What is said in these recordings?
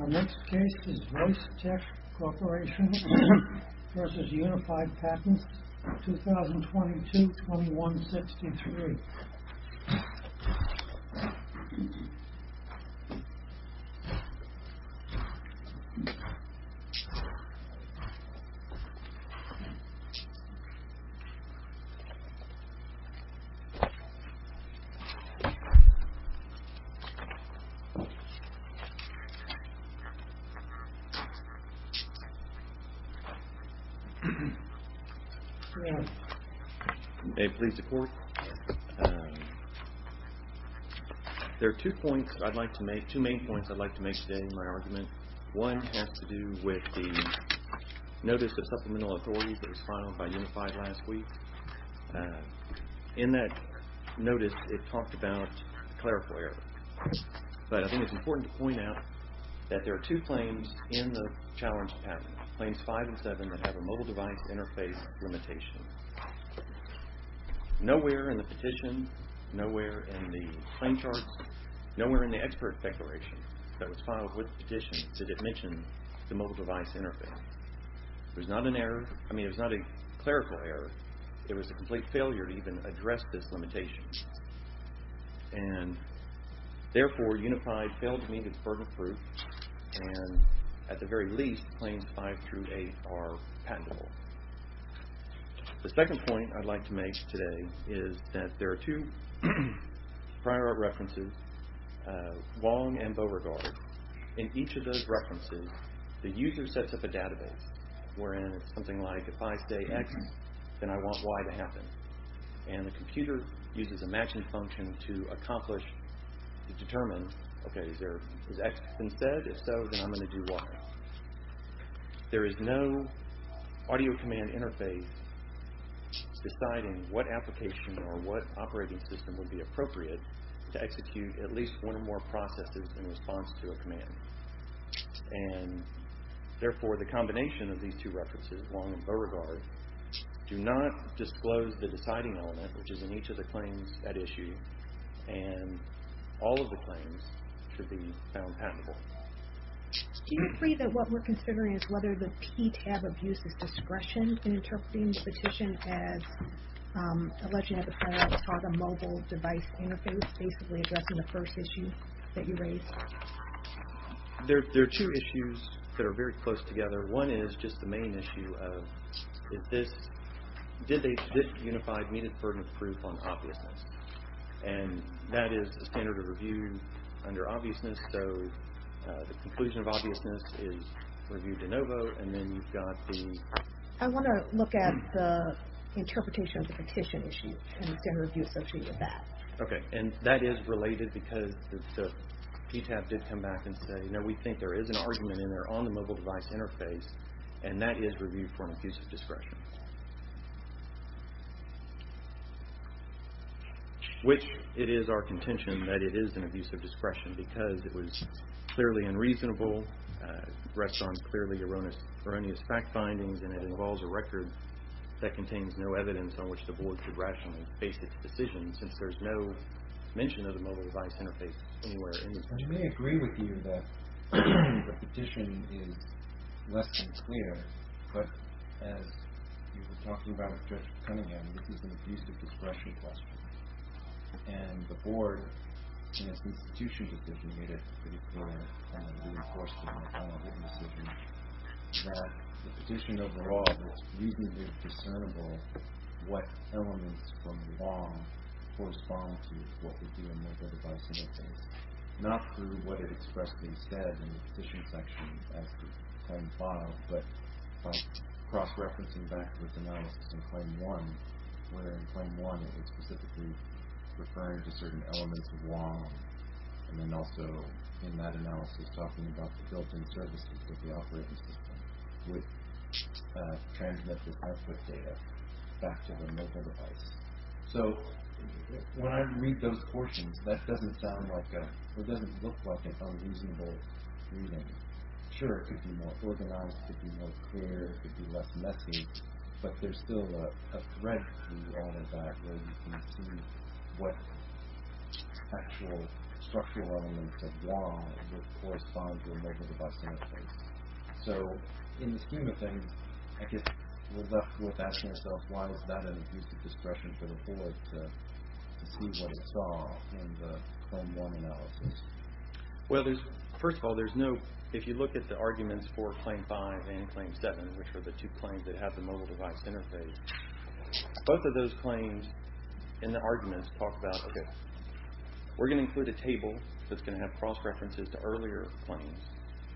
Our next case is Voice Tech Corporation v. Unified Patents, 2022-2163. There are two main points I'd like to make today in my argument. One has to do with the Notice of Supplemental Authorities that was filed by Unified last week. In that notice it talked about a clerical error. But I think it's important to point out that there are two claims in the Challenge to Patents, Claims 5 and 7, that have a mobile device interface limitation. Nowhere in the Petition, nowhere in the Claim Charts, nowhere in the Expert Declaration that was filed with the Petition did it mention the mobile device interface. There's not an error, I mean it was not a clerical error, it was a complete failure to even address this limitation. And therefore, Unified failed to meet its burden of proof and at the very least, Claims 5 through 8 are patentable. The second point I'd like to make today is that there are two prior art references, Wong and Beauregard. In each of those references, the user sets up a database wherein it's something like, if I say X, then I want Y to happen. And the computer uses a matching function to accomplish, to determine, okay, is X been said? If so, then I'm going to do Y. There is no audio command interface deciding what application or what operating system would be appropriate to execute at least one or more processes in response to a command. And therefore, the combination of these two references, Wong and Beauregard, do not disclose the deciding element, which is in each of the claims at issue, and all of the claims should be found patentable. Do you agree that what we're considering is whether the P tab of use is discretion in interpreting the petition as alleging at the time that it's called a mobile device interface, basically addressing the first issue that you raised? There are two issues that are very close together. One is just the main issue of, did they just unify needed burden of proof on obviousness? And that is a standard of review under obviousness, so the conclusion of obviousness is reviewed de novo, and then you've got the... I want to look at the interpretation of the petition issue and the standard of review associated with that. Okay, and that is related because the P tab did come back and say, you know, we think there is an argument in there on the mobile device interface, and that is reviewed for an abuse of discretion. Which it is our contention that it is an abuse of discretion because it was clearly unreasonable, rests on clearly erroneous fact findings, and it involves a record that contains no mention of the mobile device interface anywhere. I may agree with you that the petition is less than clear, but as you were talking about with Judge Cunningham, this is an abuse of discretion question, and the board, in its institution decision, made it pretty clear, and I'm going to be reinforcing that in my final written decision, that the petition overall is reasonably discernible what elements from law correspond to what would be a mobile device interface, not through what it expressed instead in the petition section as to claim five, but by cross-referencing backwards analysis in claim one, where in claim one it was specifically referring to certain elements of law, and then also in that analysis talking about the built-in services that the operating system would transmit the output data back to the mobile device. So when I read those portions, that doesn't look like an unreasonable reading. Sure, it could be more organized, it could be more clear, it could be less messy, but there's still a thread through all of that where you can see what actual structural elements of law would correspond to a mobile device interface. So, in the scheme of things, I guess we're left with asking ourselves, why is that an abuse of discretion for the board to see what it saw in the claim one analysis? Well, first of all, if you look at the arguments for claim five and claim seven, which are the two claims that have the mobile device interface, both of those claims in the arguments talk about, okay, we're going to include a table that's going to have cross-references to earlier claims,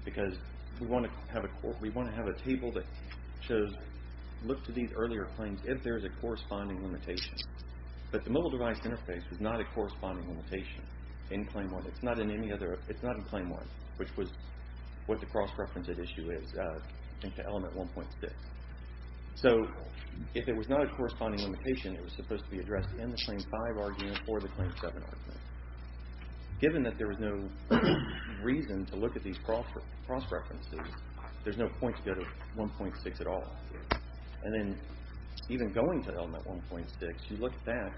because we want to have a table that shows, look to these earlier claims if there's a corresponding limitation. But the mobile device interface is not a corresponding limitation in claim one. It's not in any other, it's not in claim one, which was what the cross-referenced issue is in element 1.6. So, if it was not a corresponding limitation, it was supposed to be addressed in the claim five argument or the claim seven argument. Given that there was no reason to look at these cross-references, there's no point to go to 1.6 at all. And then, even going to element 1.6, you look at that.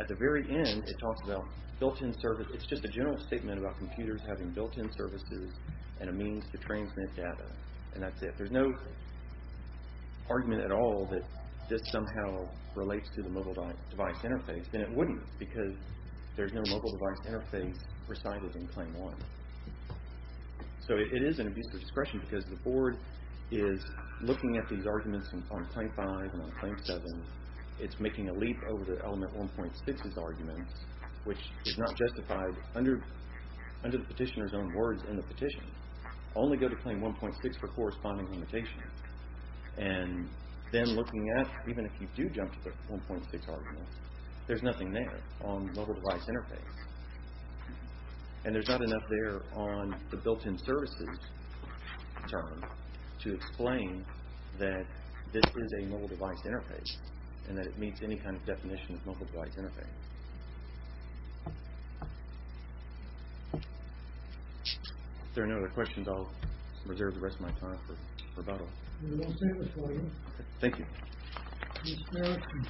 At the very end, it talks about built-in service. It's just a general statement about computers having built-in services and a means to transmit data, and that's it. There's no argument at all that this somehow relates to the mobile device interface, and it wouldn't, because there's no mobile device interface presided in claim one. So, it is an abuse of discretion, because the board is looking at these arguments on claim five and on claim seven. It's making a leap over to element 1.6's arguments, which is not justified under the petitioner's own words in the petition. Only go to claim 1.6 for corresponding limitations. And then looking at, even if you do jump to the 1.6 arguments, there's nothing there on mobile device interface. And there's not enough there on the built-in services term to explain that this is a mobile device interface, and that it meets any kind of definition of mobile device interface. Okay. If there are no other questions, I'll reserve the rest of my time for rebuttal. There's one statement for you. Thank you. Adam Erickson.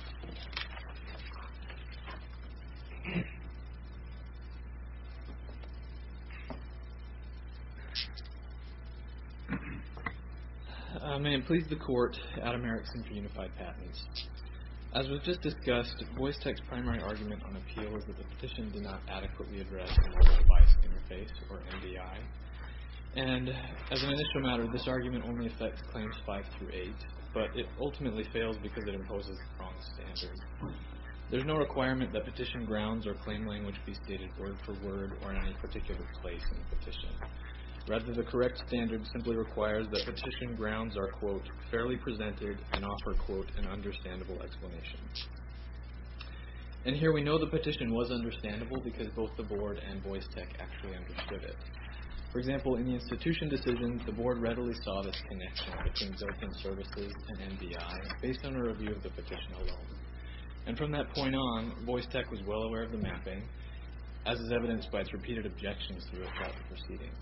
May it please the court, Adam Erickson for Unified Patents. As we've just discussed, Boyce Tech's primary argument on appeal is that the petition did not adequately address the mobile device interface, or MDI. And as an initial matter, this argument only affects claims five through eight, but it ultimately fails because it imposes the wrong standard. There's no requirement that petition grounds or claim language be stated word for word or in any particular place in the petition. Rather, the correct standard simply requires that petition grounds are, quote, fairly presented and offer, quote, an understandable explanation. And here we know the petition was understandable because both the board and Boyce Tech actually understood it. For example, in the institution decision, the board readily saw this connection between built-in services and MDI based on a review of the petition alone. And from that point on, Boyce Tech was well aware of the mapping, as is evidenced by its repeated objections throughout the proceeding.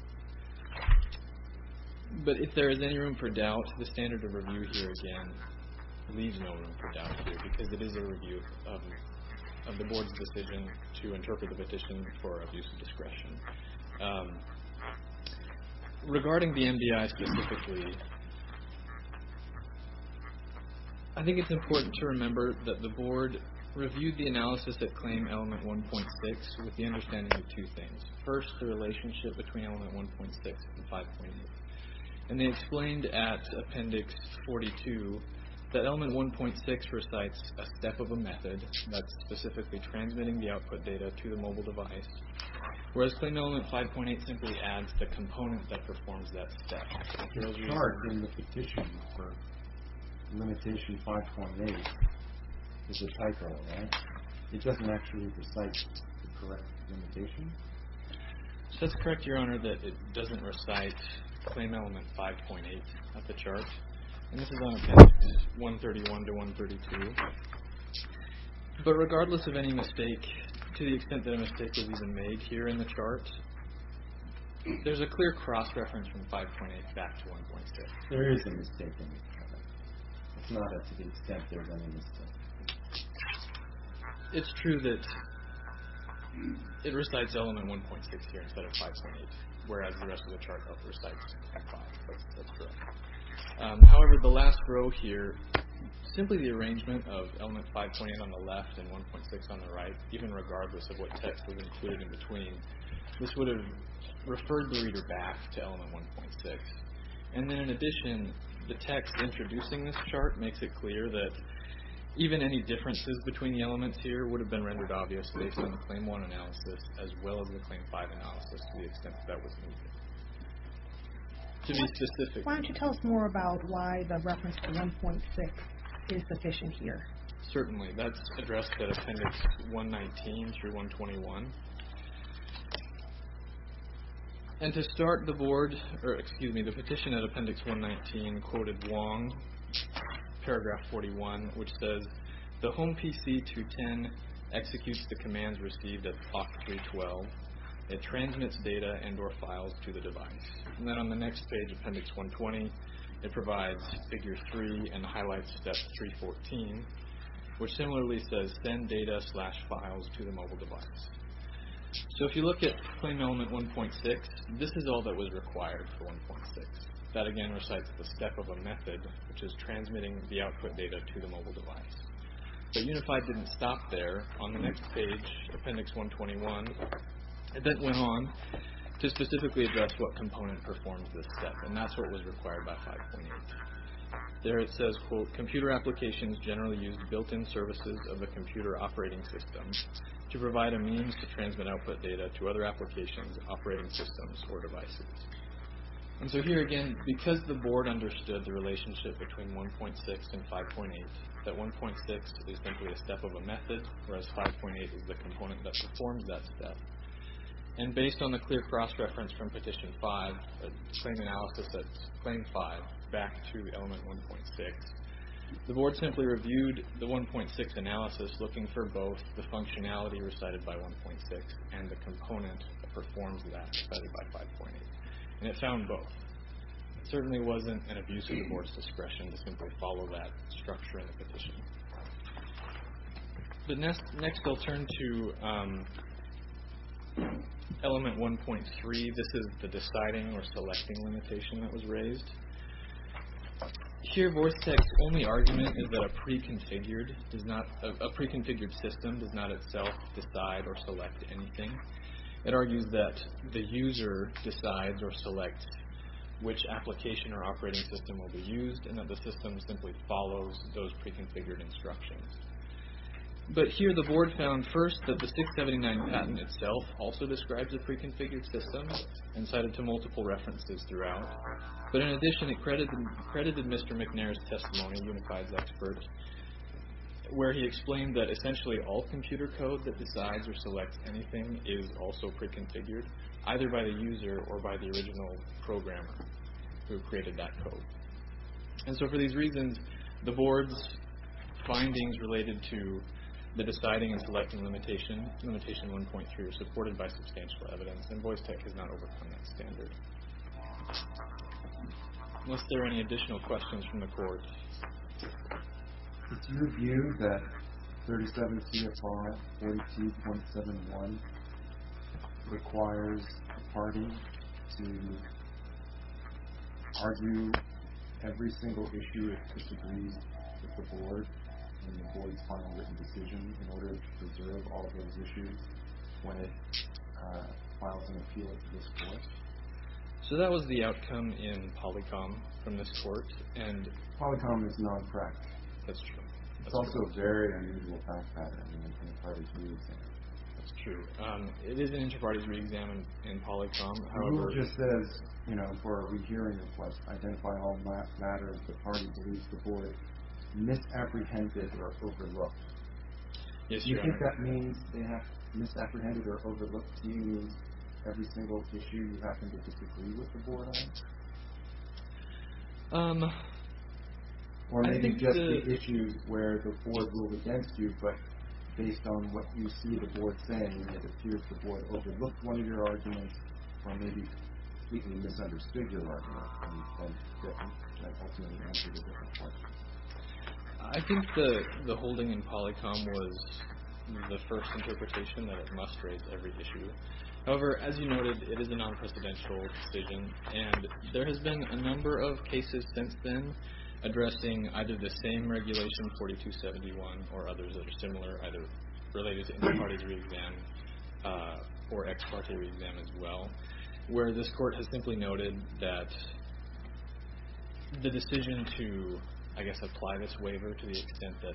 But if there is any room for doubt, the standard of review here, again, leaves no room for doubt here because it is a review of the board's decision to interpret the petition for abuse of discretion. Regarding the MDI specifically, I think it's important to remember that the board reviewed the analysis at Claim Element 1.6 with the understanding of two things. First, the relationship between Element 1.6 and 5.8. And they explained at Appendix 42 that Element 1.6 recites a step of a method that's specifically transmitting the output data to the mobile device, whereas Claim Element 5.8 simply adds the component that performs that step. Your chart in the petition for Limitation 5.8 is a typo, right? It doesn't actually recite the correct limitation? It does correct, Your Honor, that it doesn't recite Claim Element 5.8 of the chart. And this is on Appendix 131 to 132. But regardless of any mistake, to the extent that a mistake is even made here in the chart, there's a clear cross-reference from 5.8 back to 1.6. There is a mistake in the chart. It's not that to the extent there's any mistake. It's true that it recites Element 1.6 here instead of 5.8, whereas the rest of the chart recites 5. That's correct. However, the last row here, simply the arrangement of Element 5.8 on the left and 1.6 on the This would have referred the reader back to Element 1.6. And then in addition, the text introducing this chart makes it clear that even any differences between the elements here would have been rendered obvious based on the Claim 1 analysis as well as the Claim 5 analysis to the extent that that was needed. To be specific... Why don't you tell us more about why the reference to 1.6 is sufficient here? Certainly. That's addressed at Appendix 119 through 121. And to start the board, or excuse me, the petition at Appendix 119 quoted Wong, Paragraph 41, which says, The Home PC-210 executes the commands received at Clock 312. It transmits data and or files to the device. And then on the next page, Appendix 120, it provides Figure 3 and highlights Step 314, which similarly says, Send data slash files to the mobile device. So if you look at Claim Element 1.6, this is all that was required for 1.6. That again recites the step of a method, which is transmitting the output data to the mobile device. But Unified didn't stop there. On the next page, Appendix 121, it then went on to specifically address what component performs this step, and that's what was required by 5.8. There it says, Computer applications generally use built-in services of a computer operating system to provide a means to transmit output data to other applications, operating systems, or devices. And so here again, because the board understood the relationship between 1.6 and 5.8, that 1.6 is simply a step of a method, whereas 5.8 is the component that performs that step. And based on the clear cross-reference from Petition 5, a claim analysis that's Claim 5 back to Element 1.6, the board simply reviewed the 1.6 analysis looking for both the functionality recited by 1.6 and the component that performs that recited by 5.8. And it found both. It certainly wasn't an abuse of the board's discretion to simply follow that structure in the petition. Next, we'll turn to Element 1.3. This is the deciding or selecting limitation that was raised. Here, VoiceTex's only argument is that a pre-configured system does not itself decide or select anything. It argues that the user decides or selects which application or operating system will be used and that the system simply follows those pre-configured instructions. But here, the board found first that the 679 patent itself also describes a pre-configured system and cited to multiple references throughout. But in addition, it credited Mr. McNair's testimony, Unified's expert, where he explained that essentially all computer code that decides or selects anything is also pre-configured, either by the user or by the original programmer who created that code. And so for these reasons, the board's findings related to the deciding and selecting limitation, limitation 1.3, are supported by substantial evidence, and VoiceTex has not overcome that standard. Unless there are any additional questions from the board. It's your view that 37 CFR 42.71 requires a party to argue every single issue it disagrees with the board in the board's final written decision in order to preserve all those issues when it files an appeal at this court? So that was the outcome in Polycom from this court. Polycom is not correct. That's true. It's also a very unusual fact pattern in the parties we examine. That's true. It is an issue parties re-examine in Polycom, however... Who just says, you know, for a regering request, identify all matters the party believes the board misapprehended or overlooked? Yes, you. You think that means they have misapprehended or overlooked, meaning every single issue you happen to disagree with the board on? Or maybe just the issues where the board ruled against you, but based on what you see the board saying, it appears the board overlooked one of your arguments, or maybe completely misunderstood your argument. I think the holding in Polycom was the first interpretation that it must raise every issue. However, as you noted, it is a non-presidential decision, and there has been a number of cases since then addressing either the same regulation, 4271, or others that are similar, either related to inter-parties re-exam or ex-parte re-exam as well, where this court has simply noted that the decision to, I guess, apply this waiver to the extent that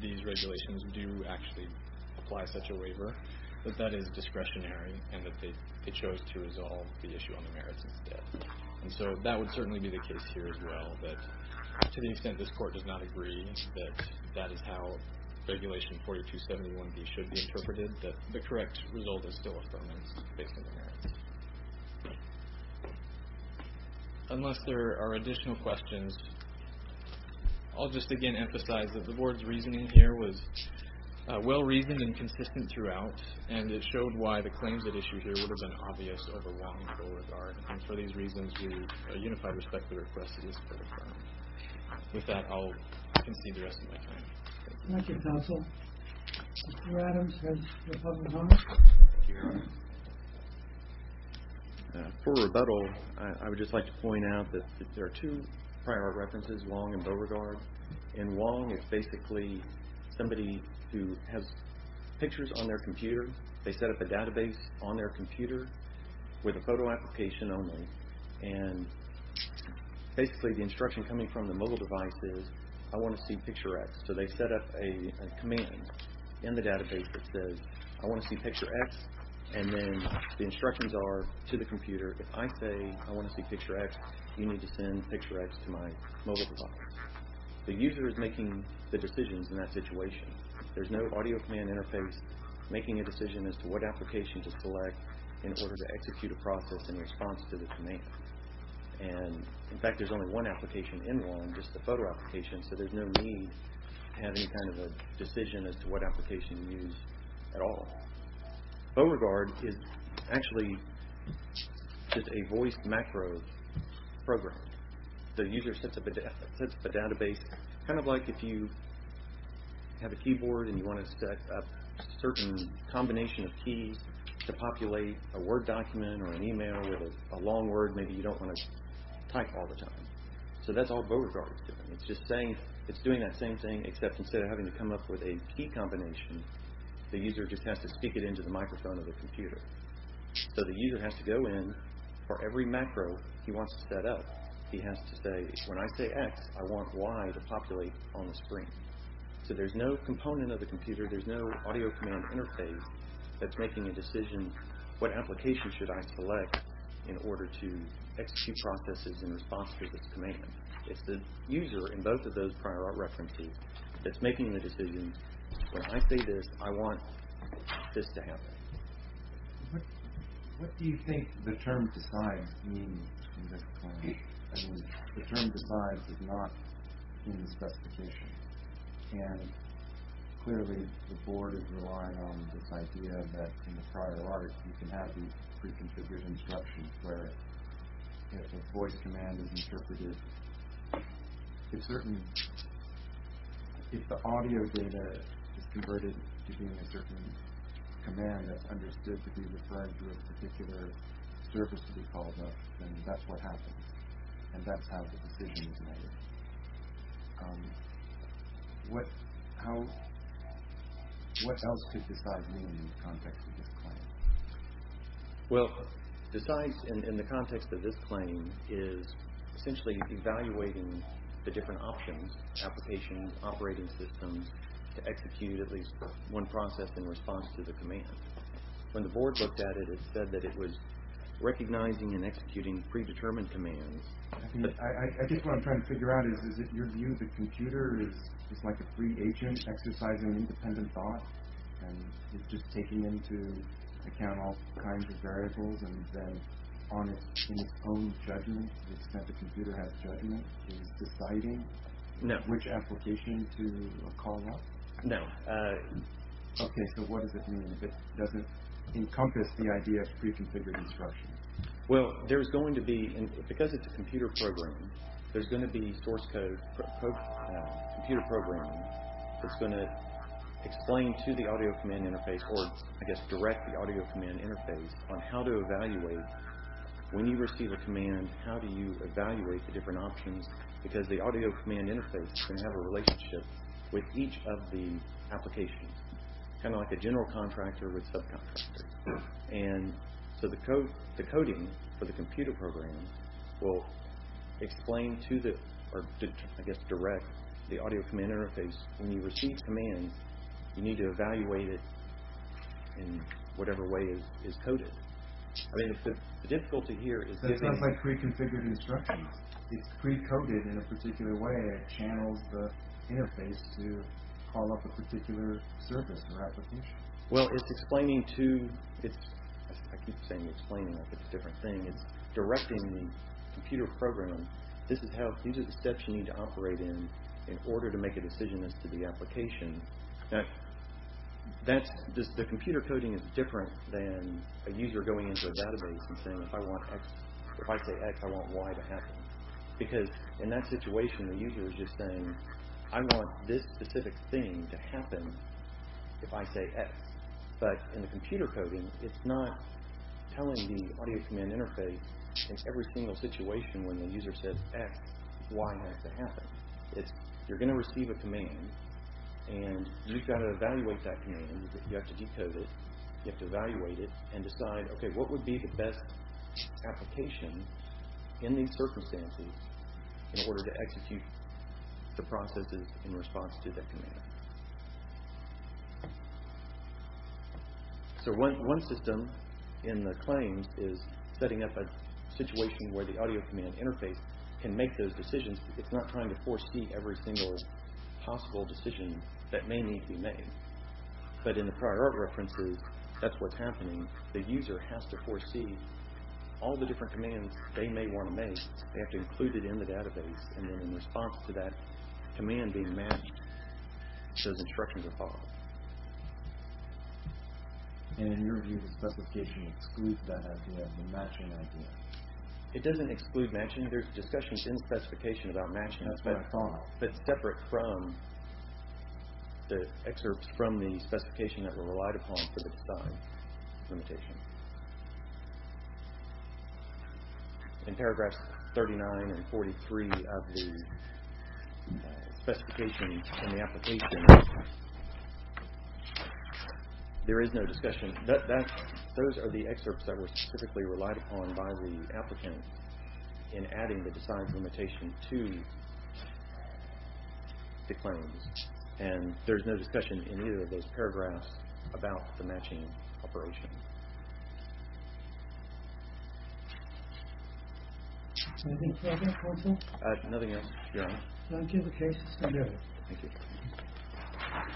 these regulations do actually apply such a waiver, that that is discretionary and that they chose to resolve the issue on the merits instead. And so that would certainly be the case here as well, but to the extent this court does not agree that that is how Regulation 4271B should be interpreted, the correct result is still affirmance based on the merits. Unless there are additional questions, I'll just again emphasize that the board's reasoning here was well-reasoned and consistent throughout, and it showed why the claims at issue here would have been obvious of a wrongful regard. And for these reasons, we unify and respect the request of this court. With that, I'll concede the rest of my time. Thank you, counsel. Mr. Adams, has your puzzle come up? For rebuttal, I would just like to point out that there are two prior references, Wong and Beauregard, and Wong is basically somebody who has pictures on their computer. They set up a database on their computer with a photo application only, and basically the instruction coming from the mobile device is, I want to see picture X. So they set up a command in the database that says, I want to see picture X, and then the instructions are to the computer, if I say I want to see picture X, you need to send picture X to my mobile device. The user is making the decisions in that situation. There's no audio command interface making a decision as to what application to select in order to execute a process in response to the command. In fact, there's only one application in Wong, just the photo application, so there's no need to have any kind of a decision as to what application to use at all. Beauregard is actually just a voice macro program. The user sets up a database, kind of like if you have a keyboard and you want to set up a certain combination of keys to populate a Word document or an email with a long word maybe you don't want to type all the time. So that's all Beauregard is doing. It's doing that same thing, except instead of having to come up with a key combination, the user just has to speak it into the microphone of the computer. So the user has to go in for every macro he wants to set up, he has to say, when I say X, I want Y to populate on the screen. So there's no component of the computer, there's no audio command interface that's making a decision, what application should I select in order to execute processes in response to this command. It's the user in both of those prior references that's making the decision, when I say this, I want this to happen. What do you think the term decides means in this plan? I mean, the term decides is not in the specification. And clearly the board is relying on this idea that in the prior art, you can have these pre-configured instructions where if a voice command is interpreted, if the audio data is converted to being a certain command that's understood to be referred to a particular service to be called up, then that's what happens. And that's how the decision is made. What else could decide mean in the context of this plan? Well, decides in the context of this plan is essentially evaluating the different options, applications, operating systems, to execute at least one process in response to the command. When the board looked at it, it said that it was recognizing and executing predetermined commands. I guess what I'm trying to figure out is, is it your view the computer is like a free agent, exercising independent thought, and it's just taking into account all kinds of variables and then in its own judgment, the extent the computer has judgment, is deciding which application to call up? No. Okay, so what does it mean? Does it encompass the idea of pre-configured instruction? Well, there's going to be, because it's a computer program, there's going to be source code, computer programming that's going to explain to the audio command interface or I guess direct the audio command interface on how to evaluate. When you receive a command, how do you evaluate the different options? Because the audio command interface is going to have a relationship with each of the applications. Kind of like a general contractor with subcontractors. And so the coding for the computer program will explain to the, or I guess direct the audio command interface. When you receive commands, you need to evaluate it in whatever way it is coded. I mean, the difficulty here is that it's not like pre-configured instructions. It's pre-coded in a particular way. It channels the interface to call up a particular service or application. Well, it's explaining to, I keep saying explaining. It's a different thing. It's directing the computer program, this is how, these are the steps you need to operate in in order to make a decision as to the application. The computer coding is different than a user going into a database and saying if I say X, I want Y to happen. Because in that situation, the user is just saying, I want this specific thing to happen if I say X. But in the computer coding, it's not telling the audio command interface in every single situation when the user says X, Y has to happen. You're going to receive a command and you've got to evaluate that command. You have to decode it. You have to evaluate it and decide, okay, what would be the best application in these circumstances in order to execute the processes in response to that command. So one system in the claims is setting up a situation where the audio command interface can make those decisions. It's not trying to foresee every single possible decision that may need to be made. But in the prior art references, that's what's happening. The user has to foresee all the different commands they may want to make. They have to include it in the database. And then in response to that command being matched, those instructions are followed. And in your view, the specification excludes that idea, the matching idea? It doesn't exclude matching. There's discussions in the specification about matching. That's what I thought. It's separate from the excerpts from the specification that were relied upon for the design limitation. In paragraphs 39 and 43 of the specifications in the application, there is no discussion. Those are the excerpts that were specifically relied upon by the applicant in adding the design limitation to the claims. And there's no discussion in either of those paragraphs about the matching operation. Anything further, counsel? Nothing else, Your Honor. Thank you. The case is submitted. Thank you.